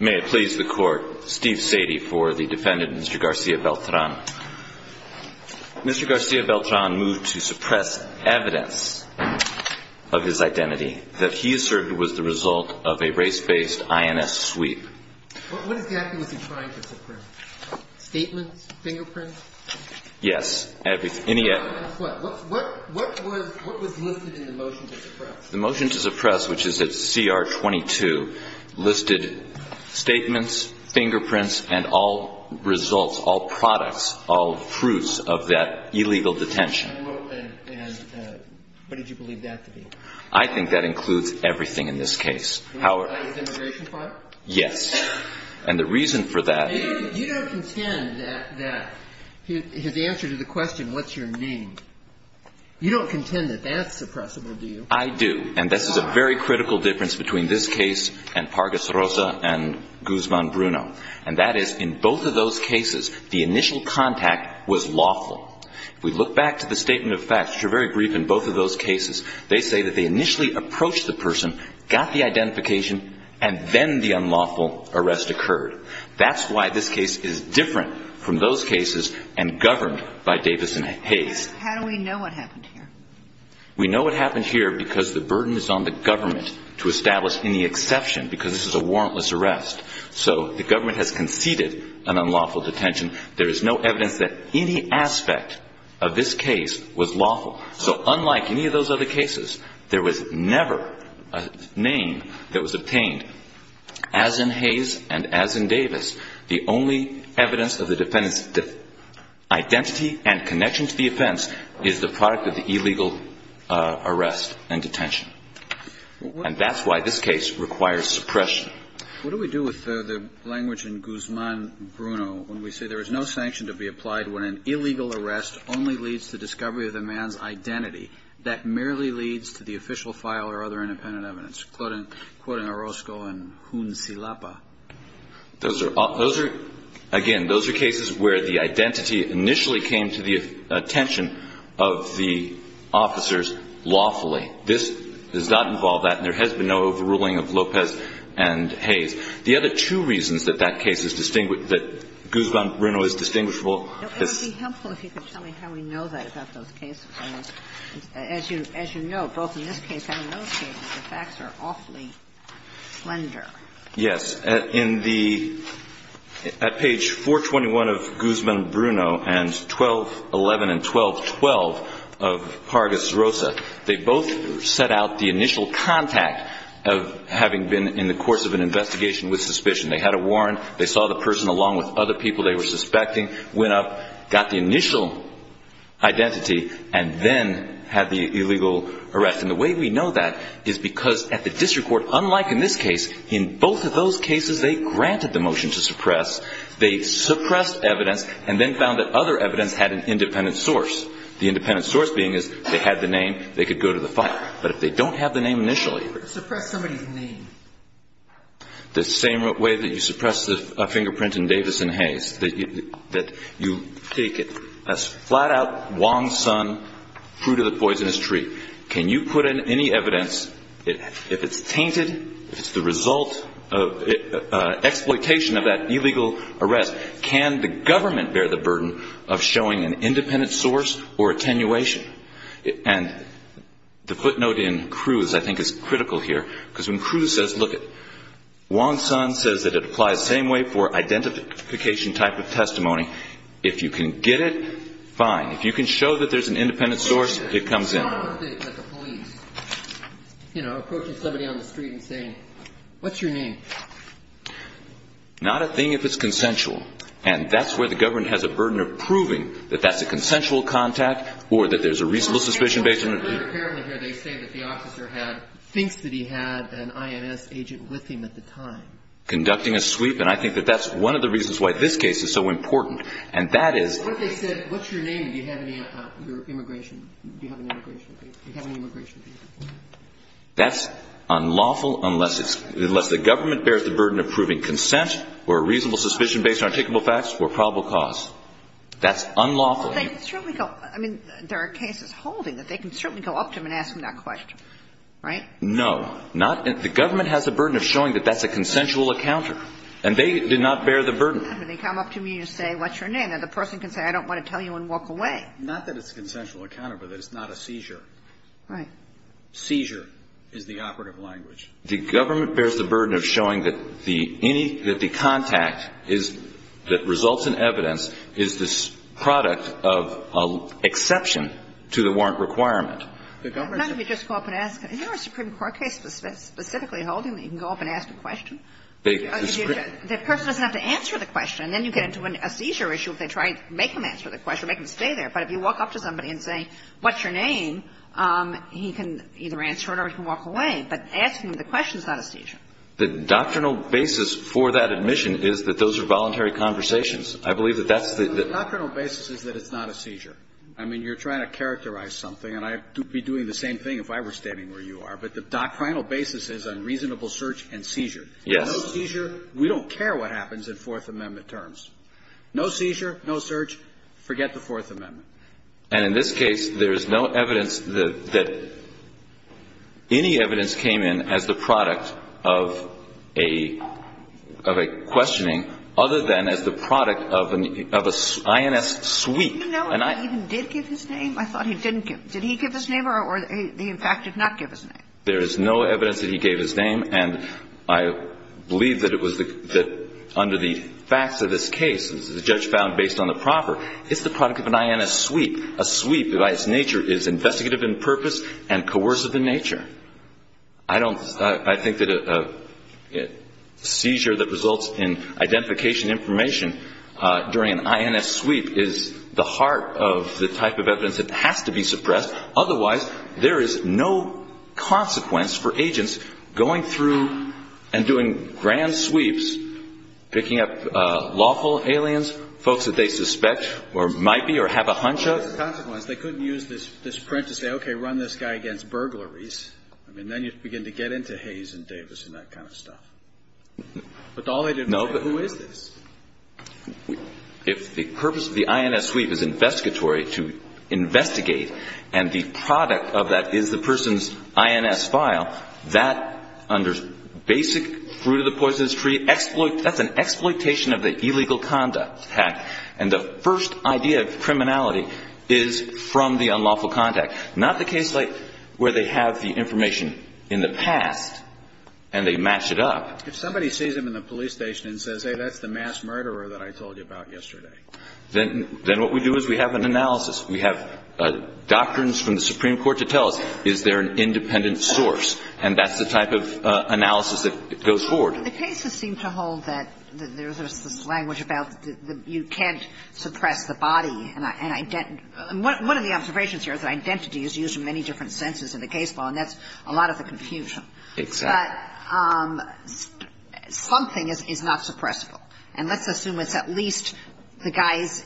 May it please the Court, Steve Sadie, for the testimony of Mr. GARCIA-BELTRAN. Mr. GARCIA-BELTRAN moved to suppress evidence of his identity that he asserted was the result of a race-based INS sweep. What exactly was he trying to suppress? Statements? Fingerprints? Yes, everything. What was listed in the motion to suppress? The motion to suppress, which is at C.R. 22, listed statements, fingerprints, and all results, all products, all fruits of that illegal detention. And what did you believe that to be? I think that includes everything in this case. Was that his immigration file? Yes. And the reason for that is... You don't contend that his answer to the question, what's your name, you don't contend that that's suppressible, do you? I do. And this is a very critical difference between this case and Pargis Rosa and Guzman Bruno. And that is, in both of those cases, the initial contact was lawful. If we look back to the statement of facts, which are very brief in both of those cases, they say that they initially approached the person, got the identification, and then the unlawful arrest occurred. That's why this case is different from those cases and governed by Davison Hayes. How do we know what happened here? We know what happened here because the burden is on the government to establish any exception, because this is a warrantless arrest. So the government has conceded an unlawful detention. There is no evidence that any aspect of this case was lawful. So unlike any of those other cases, there was never a name that was obtained. As in Hayes and as in Davis, the only evidence of the defendant's identity and connection to the offense is the product of the illegal arrest and detention. And that's why this case requires suppression. What do we do with the language in Guzman Bruno when we say there is no sanction to be applied when an illegal arrest only leads to discovery of the man's identity that merely leads to the official file or other independent evidence? Quoting Orozco and Hunzilapa. Those are all – those are – again, those are cases where the identity initially came to the attention of the officers lawfully. This does not involve that, and there has been no overruling of Lopez and Hayes. The other two reasons that that case is – that Guzman Bruno is distinguishable is – It would be helpful if you could tell me how we know that about those cases. As you know, both in this case and in those cases, the facts are awfully slender. Yes. In the – at page 421 of Guzman Bruno and 1211 and 1212 of Pargas Rosa, they both set out the initial contact of having been in the course of an investigation with suspicion. They had a warrant. They saw the person along with other people they were suspecting, went up, got the initial identity, and then had the illegal arrest. And the way we know that is because at the district court, unlike in this case, in both of those cases, they granted the motion to suppress. They suppressed evidence and then found that other evidence had an independent source, the independent source being is they had the name, they could go to the fire. But if they don't have the name initially – Suppress somebody's name. The same way that you suppress the fingerprint in Davis and Hayes, that you take a flat-out Wong-Sun fruit-of-the-poisonous-tree. Can you put in any evidence, if it's tainted, if it's the result of exploitation of that illegal arrest, can the government bear the burden of showing an independent source or attenuation? And the footnote in Cruz I think is critical here, because when Cruz says, look, Wong-Sun says that it applies the same way for identification type of testimony. If you can get it, fine. If you can show that there's an independent source, it comes in. I've heard that the police, you know, approach somebody on the street and say, what's your name? Not a thing if it's consensual. And that's where the government has a burden of proving that that's a consensual contact or that there's a reasonable suspicion based on – Apparently here they say that the officer had – thinks that he had an IMS agent with him at the time. Conducting a sweep. And I think that that's one of the reasons why this case is so important. And that is – What they said, what's your name? Do you have any immigration – do you have an immigration – do you have an immigration visa? That's unlawful unless it's – unless the government bears the burden of proving consent or a reasonable suspicion based on articulable facts or probable cause. That's unlawful. Well, they can certainly go – I mean, there are cases holding that they can certainly go up to them and ask them that question. Right? No. Not – the government has a burden of showing that that's a consensual encounter. And they did not bear the burden. They come up to me and say, what's your name? And the person can say, I don't want to tell you and walk away. Not that it's a consensual encounter, but that it's not a seizure. Right. Seizure is the operative language. The government bears the burden of showing that the – any – that the contact is – that results in evidence is the product of exception to the warrant requirement. The government – Let me just go up and ask. Is there a Supreme Court case specifically holding that you can go up and ask a question and say, what's your name? The person doesn't have to answer the question. And then you get into a seizure issue if they try to make them answer the question, make them stay there. But if you walk up to somebody and say, what's your name, he can either answer it or he can walk away. But asking the question is not a seizure. The doctrinal basis for that admission is that those are voluntary conversations. I believe that that's the – The doctrinal basis is that it's not a seizure. I mean, you're trying to characterize something. And I would be doing the same thing if I were standing where you are. But the doctrinal basis is unreasonable search and seizure. Yes. No seizure. We don't care what happens in Fourth Amendment terms. No seizure. No search. Forget the Fourth Amendment. And in this case, there is no evidence that any evidence came in as the product of a questioning other than as the product of an – of an INS sweep. Did he know that he even did give his name? I thought he didn't give – did he give his name or did he in fact not give his name? There is no evidence that he gave his name. And I believe that it was the – that under the facts of this case, the judge found based on the proffer, it's the product of an INS sweep. A sweep by its nature is investigative in purpose and coercive in nature. I don't – I think that a seizure that results in identification information during an INS sweep is the heart of the type of evidence that has to be suppressed. Otherwise, there is no consequence for agents going through and doing grand sweeps, picking up lawful aliens, folks that they suspect or might be or have a hunch of. There's a consequence. They couldn't use this – this print to say, okay, run this guy against burglaries. I mean, then you begin to get into Hayes and Davis and that kind of stuff. But all they did was say, who is this? If the purpose of the INS sweep is investigatory to investigate and the product of that is the person's INS file, that under basic fruit of the poisonous tree, that's an exploitation of the illegal conduct act. And the first idea of criminality is from the unlawful contact, not the case like where they have the information in the past and they match it up. If somebody sees him in the police station and says, hey, that's the mass murderer that I told you about yesterday. Then what we do is we have an analysis. We have doctrines from the Supreme Court to tell us, is there an independent source? And that's the type of analysis that goes forward. The cases seem to hold that there's this language about you can't suppress the body. And one of the observations here is that identity is used in many different senses in the case law, and that's a lot of the confusion. Exactly. But something is not suppressible. And let's assume it's at least the guy's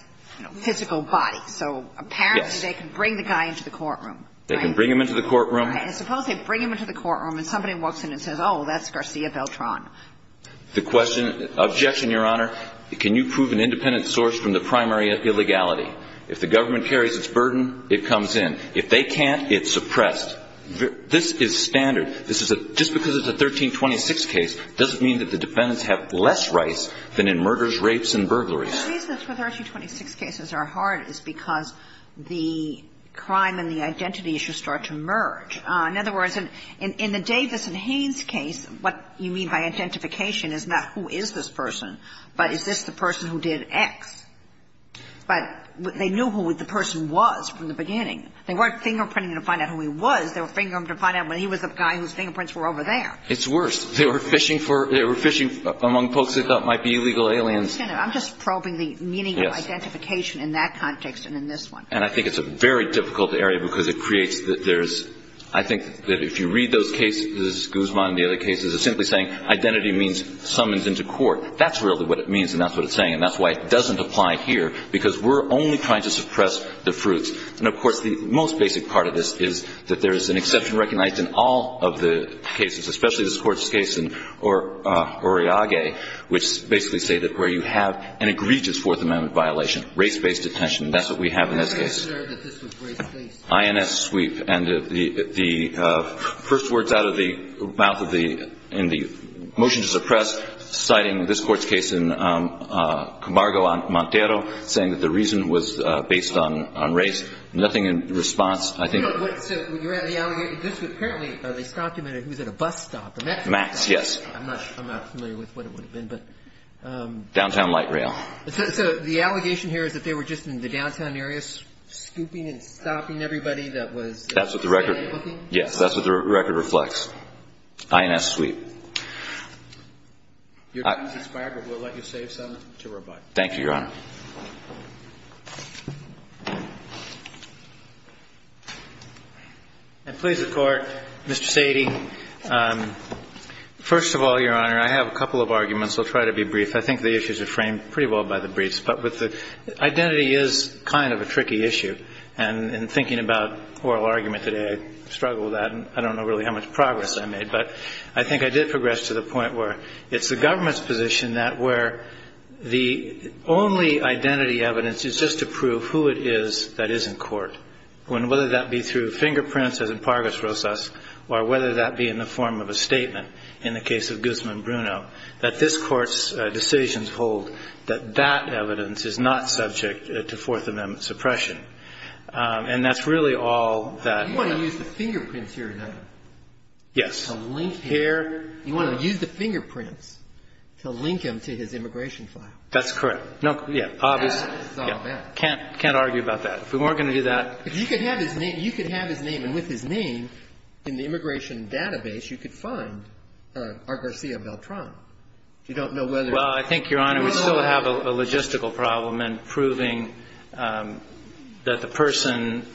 physical body. So apparently they can bring the guy into the courtroom. They can bring him into the courtroom. Right. And suppose they bring him into the courtroom and somebody walks in and says, oh, that's Garcia Beltran. The question, objection, Your Honor, can you prove an independent source from the primary illegality? If the government carries its burden, it comes in. If they can't, it's suppressed. This is standard. Just because it's a 1326 case doesn't mean that the defendants have less rights than in murders, rapes and burglaries. The reason 1326 cases are hard is because the crime and the identity issue start to merge. In other words, in the Davis and Haynes case, what you mean by identification is not who is this person, but is this the person who did X. But they knew who the person was from the beginning. They weren't fingerprinting to find out who he was. They were fingerprinting to find out when he was the guy whose fingerprints were over there. It's worse. They were fishing for – they were fishing among folks they thought might be illegal aliens. I'm just probing the meaning of identification in that context and in this one. And I think it's a very difficult area because it creates – there's – I think that if you read those cases, Guzman and the other cases, it's simply saying identity means summons into court. That's really what it means and that's what it's saying. And that's why it doesn't apply here, because we're only trying to suppress the fruits. And, of course, the most basic part of this is that there is an exception recognized in all of the cases, especially this Court's case in Oriague, which basically say that where you have an egregious Fourth Amendment violation, race-based detention. That's what we have in this case. I'm not sure that this was race-based. INS sweep. And the first words out of the mouth of the – in the motion to suppress, citing this Court's case in Camargo, Montero, saying that the reason was based on race. Nothing in response. I think – So you're at the – this was apparently – they stopped him at a – he was at a bus stop, a metro stop. Max, yes. I'm not familiar with what it would have been, but – Downtown light rail. So the allegation here is that they were just in the downtown area scooping and stopping everybody that was – That's what the record – Yes, that's what the record reflects. INS sweep. Your time is expired, but we'll let you save some to rebut. Thank you, Your Honor. And please, the Court. Mr. Sadie, first of all, Your Honor, I have a couple of arguments. I'll try to be brief. I think the issues are framed pretty well by the briefs. But with the – identity is kind of a tricky issue. And in thinking about oral argument today, I struggle with that. And I don't know really how much progress I made. But I think I did progress to the point where it's the government's position that where the only identity evidence is just to prove who it is that is in court. And whether that be through fingerprints, as in Pargus Rosas, or whether that be in the form of a statement in the case of Guzman Bruno, that this Court's decisions hold that that evidence is not subject to Fourth Amendment suppression. And that's really all that – You want to use the fingerprints here, Your Honor. Yes. You want to use the fingerprints to link him to his immigration file. That's correct. No – yeah. That is all that. Can't argue about that. If we weren't going to do that – If you could have his name – you could have his name. And with his name in the immigration database, you could find R. Garcia Beltran. You don't know whether – Well, I think, Your Honor, we still have a logistical problem in proving that the person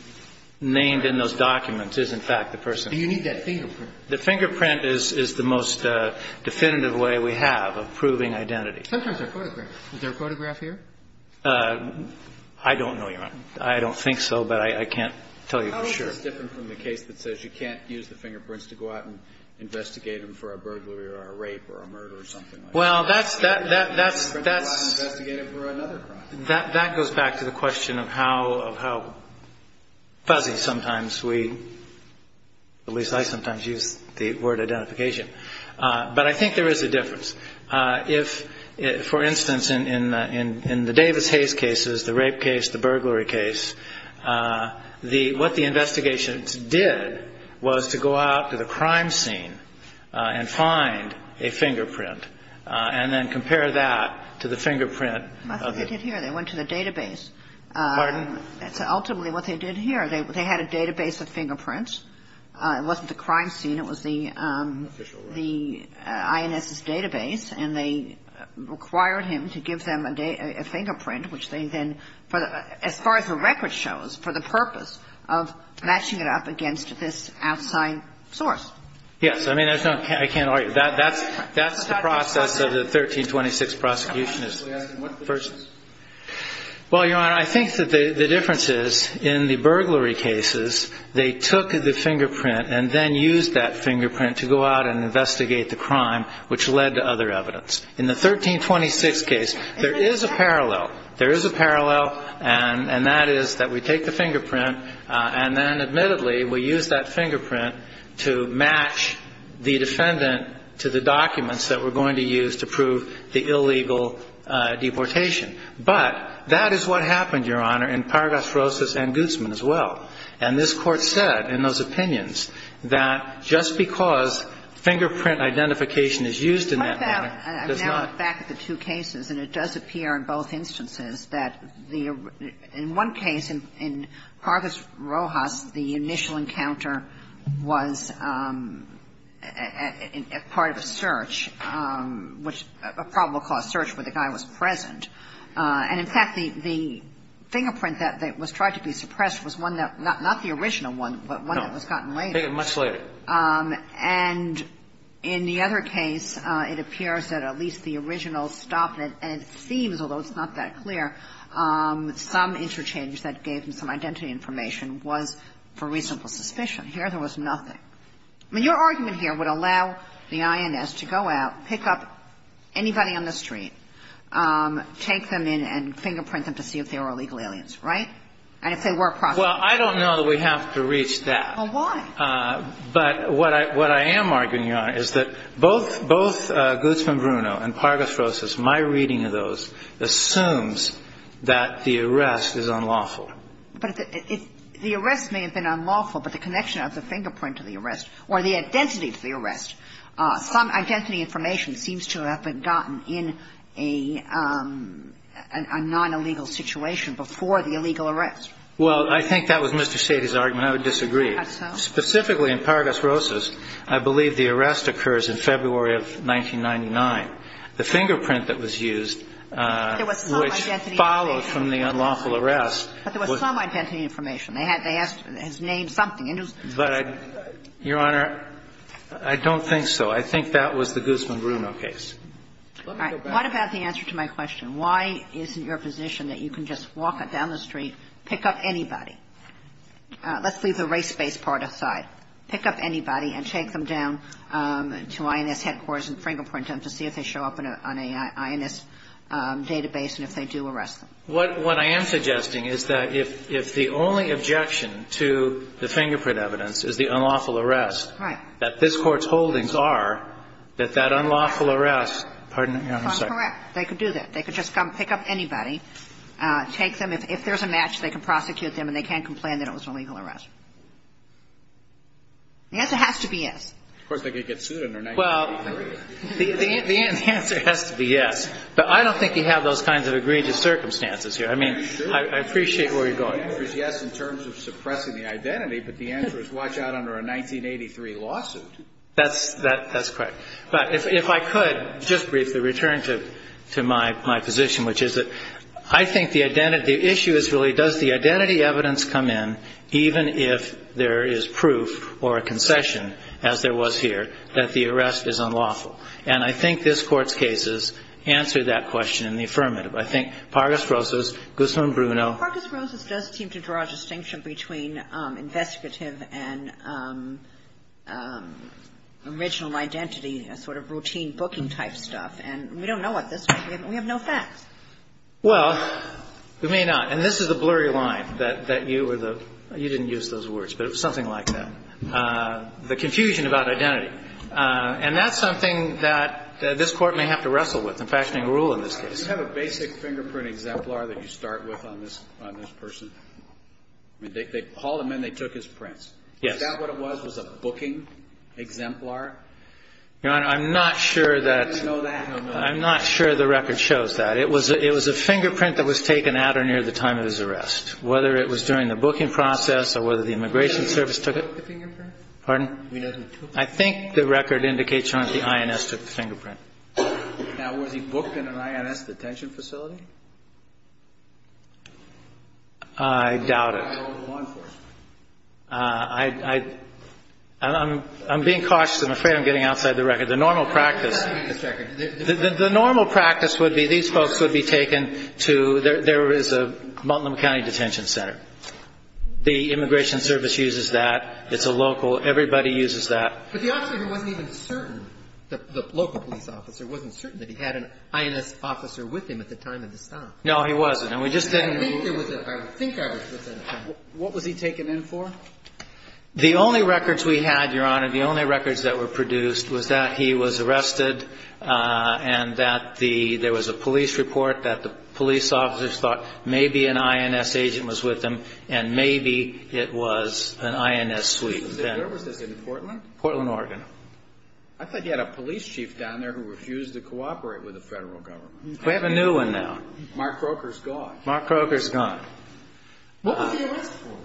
named in those documents is, in fact, the person. And you need that fingerprint. The fingerprint is the most definitive way we have of proving identity. Sometimes they're photographs. Is there a photograph here? I don't know, Your Honor. I don't think so, but I can't tell you for sure. How is this different from the case that says you can't use the fingerprints to go out and investigate him for a burglary or a rape or a murder or something like that? Well, that's – that's – that's – You can't go out and investigate him for another crime. That goes back to the question of how fuzzy sometimes we – at least I sometimes use the word identification. But I think there is a difference. If, for instance, in the Davis-Hayes cases, the rape case, the burglary case, what the investigations did was to go out to the crime scene and find a fingerprint I think they did here. They went to the database. Pardon? Ultimately, what they did here, they had a database of fingerprints. It wasn't the crime scene. It was the INS's database. And they required him to give them a fingerprint, which they then, as far as the record shows, for the purpose of matching it up against this outside source. Yes. I mean, there's no – I can't argue. That's the process of the 1326 prosecution. Well, Your Honor, I think that the difference is, in the burglary cases, they took the fingerprint and then used that fingerprint to go out and investigate the crime, which led to other evidence. In the 1326 case, there is a parallel. There is a parallel, and that is that we take the fingerprint and then, admittedly, we use that fingerprint to match the defendant to the documents that we're going to use to prove the illegal deportation. But that is what happened, Your Honor, in Pargas Rojas and Guzman as well. And this Court said, in those opinions, that just because fingerprint identification is used in that manner does not – I'm now back at the two cases. And it does appear in both instances that the – in one case, in Pargas Rojas, the initial encounter was part of a search, which – a probable cause search where the guy was present. And, in fact, the fingerprint that was tried to be suppressed was one that – not the original one, but one that was gotten later. No. Much later. And in the other case, it appears that at least the original stop, and it seems, although it's not that clear, some interchange that gave him some identity information was for reasonable suspicion. Here, there was nothing. I mean, your argument here would allow the INS to go out, pick up anybody on the street, take them in and fingerprint them to see if they were illegal aliens, right? And if they were, prosecute them. Well, I don't know that we have to reach that. Well, why? But what I am arguing, Your Honor, is that both Guzman Bruno and Pargas Rojas, my reading of those, assumes that the arrest is unlawful. But the arrest may have been unlawful, but the connection of the fingerprint to the arrest or the identity to the arrest, some identity information seems to have been gotten in a non-illegal situation before the illegal arrest. Well, I think that was Mr. Sady's argument. I would disagree. Specifically, in Pargas Rojas, I believe the arrest occurs in February of 1999. The fingerprint that was used, which followed from the unlawful arrest. But there was some identity information. They had to ask to name something. But, Your Honor, I don't think so. I think that was the Guzman Bruno case. All right. What about the answer to my question? Why isn't your position that you can just walk down the street, pick up anybody? Let's leave the race-based part aside. All right. Pick up anybody and take them down to INS headquarters in Fringlepoint to see if they show up on an INS database and if they do arrest them. What I am suggesting is that if the only objection to the fingerprint evidence is the unlawful arrest, that this Court's holdings are that that unlawful arrest pardon me, Your Honor, I'm sorry. That's correct. They could do that. They could just come pick up anybody, take them. If there's a match, they can prosecute them and they can't complain that it was an illegal arrest. The answer has to be yes. Of course, they could get sued under 1983. Well, the answer has to be yes. But I don't think you have those kinds of egregious circumstances here. I mean, I appreciate where you're going. The answer is yes in terms of suppressing the identity, but the answer is watch out under a 1983 lawsuit. That's correct. But if I could just briefly return to my position, which is that I think the issue is really does the identity evidence come in even if there is proof or a concession, as there was here, that the arrest is unlawful? And I think this Court's cases answer that question in the affirmative. I think Pargis Rosas, Guzman, Bruno. Pargis Rosas does seem to draw a distinction between investigative and original identity, a sort of routine booking type stuff. And we don't know what this means. We have no facts. Well, we may not. And this is the blurry line that you were the – you didn't use those words, but it was something like that, the confusion about identity. And that's something that this Court may have to wrestle with in fashioning a rule in this case. Do you have a basic fingerprint exemplar that you start with on this person? I mean, they called him in. They took his prints. Yes. Is that what it was, was a booking exemplar? Your Honor, I'm not sure that – Do you know that? No, no. I'm not sure the record shows that. It was a fingerprint that was taken at or near the time of his arrest, whether it was during the booking process or whether the immigration service took it. Pardon? I think the record indicates, Your Honor, that the INS took the fingerprint. Now, was he booked in an INS detention facility? I doubt it. I'm being cautious. I'm afraid I'm getting outside the record. The normal practice would be these folks would be taken to – there is a Multnomah County detention center. The immigration service uses that. It's a local. Everybody uses that. But the officer wasn't even certain, the local police officer wasn't certain that he had an INS officer with him at the time of the stop. No, he wasn't. And we just didn't – I think there was a – I think I was with him. What was he taken in for? The only records we had, Your Honor, the only records that were produced was that he was arrested and that the – there was a police report that the police officers thought maybe an INS agent was with him and maybe it was an INS suite. Was this in Portland? Portland, Oregon. I thought you had a police chief down there who refused to cooperate with the Federal Government. We have a new one now. Mark Croker's gone. Mark Croker's gone. What was he arrested for?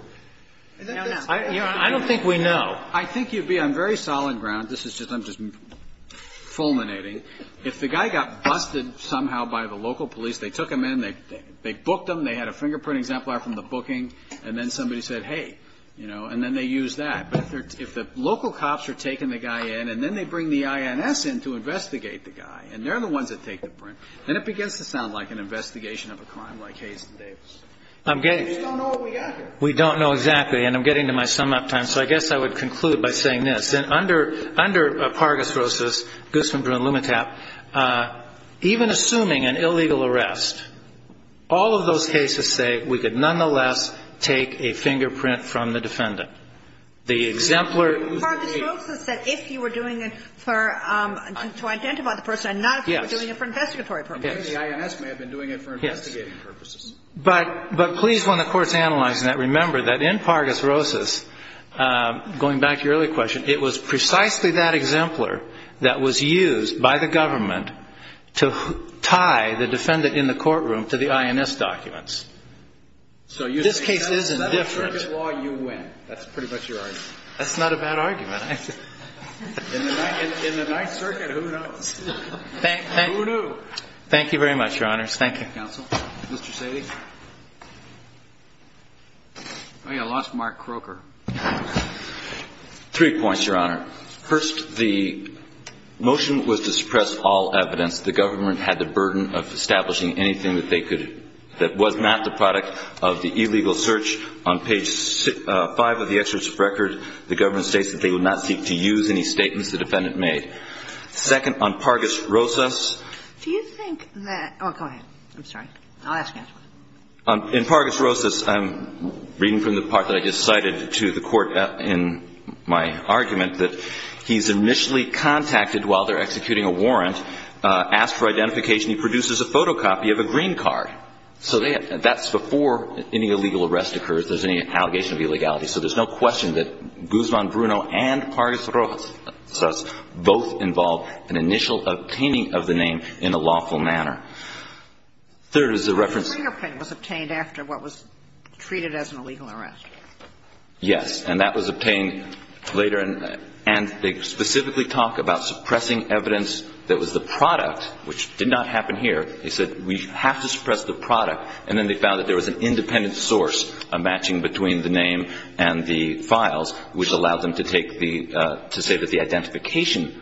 I don't think we know. I think you'd be on very solid ground. This is just – I'm just fulminating. If the guy got busted somehow by the local police, they took him in, they booked him, they had a fingerprint exemplar from the booking, and then somebody said, hey, you know, and then they used that. But if the local cops are taking the guy in and then they bring the INS in to investigate the guy and they're the ones that take the print, then it begins to sound like an investigation of a crime like Hayes and Davis. I'm getting – We just don't know what we got here. We don't know exactly, and I'm getting to my sum-up time, so I guess I would conclude by saying this. Under Pargis Rosas, Guzman, Brewer, and Lumetap, even assuming an illegal arrest, all of those cases say we could nonetheless take a fingerprint from the defendant. The exemplar – Pargis Rosas said if you were doing it for – to identify the person, not if you were doing it for investigatory purposes. Yes. The INS may have been doing it for investigating purposes. Yes. But please, when the Court's analyzing that, remember that in Pargis Rosas, going back to your earlier question, it was precisely that exemplar that was used by the government to tie the defendant in the courtroom to the INS documents. So you're saying – This case is indifferent. In the Ninth Circuit law, you win. That's pretty much your argument. That's not a bad argument. In the Ninth Circuit, who knows? Who knew? Thank you very much, Your Honors. Thank you. Thank you, counsel. Mr. Sadie. I lost Mark Croker. Three points, Your Honor. First, the motion was to suppress all evidence. The government had the burden of establishing anything that they could – that was not the product of the illegal search. On page 5 of the excerpt of record, the government states that they would not seek to use any statements the defendant made. Second, on Pargis Rosas – Do you think that – oh, go ahead. I'm sorry. I'll ask you afterwards. In Pargis Rosas, I'm reading from the part that I just cited to the Court in my argument that he's initially contacted while they're executing a warrant, asked for identification, he produces a photocopy of a green card. So that's before any illegal arrest occurs, there's any allegation of illegality. So there's no question that Guzman Bruno and Pargis Rosas both involve an initial obtaining of the name in a lawful manner. Third is the reference – The fingerprint was obtained after what was treated as an illegal arrest. Yes. And that was obtained later. And they specifically talk about suppressing evidence that was the product, which did not happen here. They said we have to suppress the product. And then they found that there was an independent source, a matching between the name and the files, which allowed them to take the – to say that the identification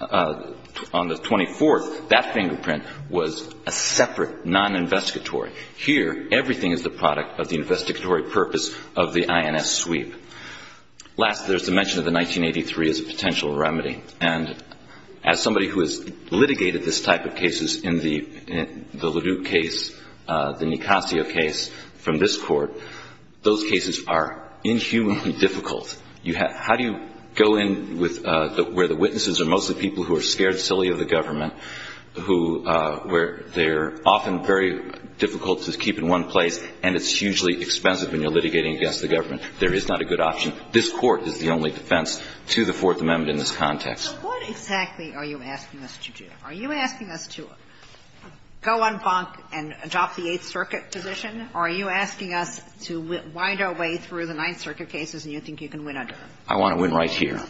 on the 24th, that fingerprint, was a separate non-investigatory. Here, everything is the product of the investigatory purpose of the INS sweep. Last, there's the mention of the 1983 as a potential remedy. And as somebody who has litigated this type of cases in the LeDuc case, the Nicasio case from this Court, those cases are inhumanly difficult. You have – how do you go in with – where the witnesses are mostly people who are scared silly of the government, who – where they're often very difficult to keep in one place, and it's hugely expensive when you're litigating against the government. There is not a good option. This Court is the only defense to the Fourth Amendment in this context. So what exactly are you asking us to do? Are you asking us to go on bonk and drop the Eighth Circuit position? Or are you asking us to wind our way through the Ninth Circuit cases and you think you can win under them? I want to win right here.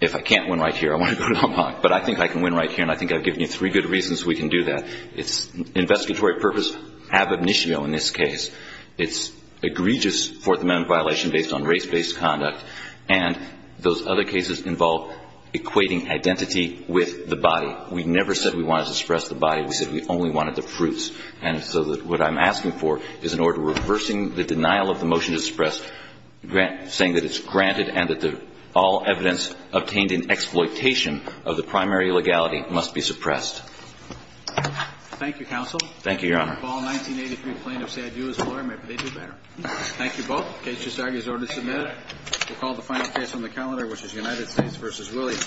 If I can't win right here, I want to go on bonk. But I think I can win right here, and I think I've given you three good reasons we can do that. It's investigatory purpose ab initio in this case. It's egregious Fourth Amendment violation based on race-based conduct. And those other cases involve equating identity with the body. We never said we wanted to suppress the body. We said we only wanted the fruits. And so what I'm asking for is an order reversing the denial of the motion to suppress, saying that it's granted and that all evidence obtained in exploitation of the primary legality must be suppressed. Thank you, Counsel. Thank you, Your Honor. The fall 1983 plaintiff said, you as a lawyer, maybe they do better. Thank you both. The case is now in order to submit. We'll call the final case on the calendar, which is United States v. Williams. Thank you.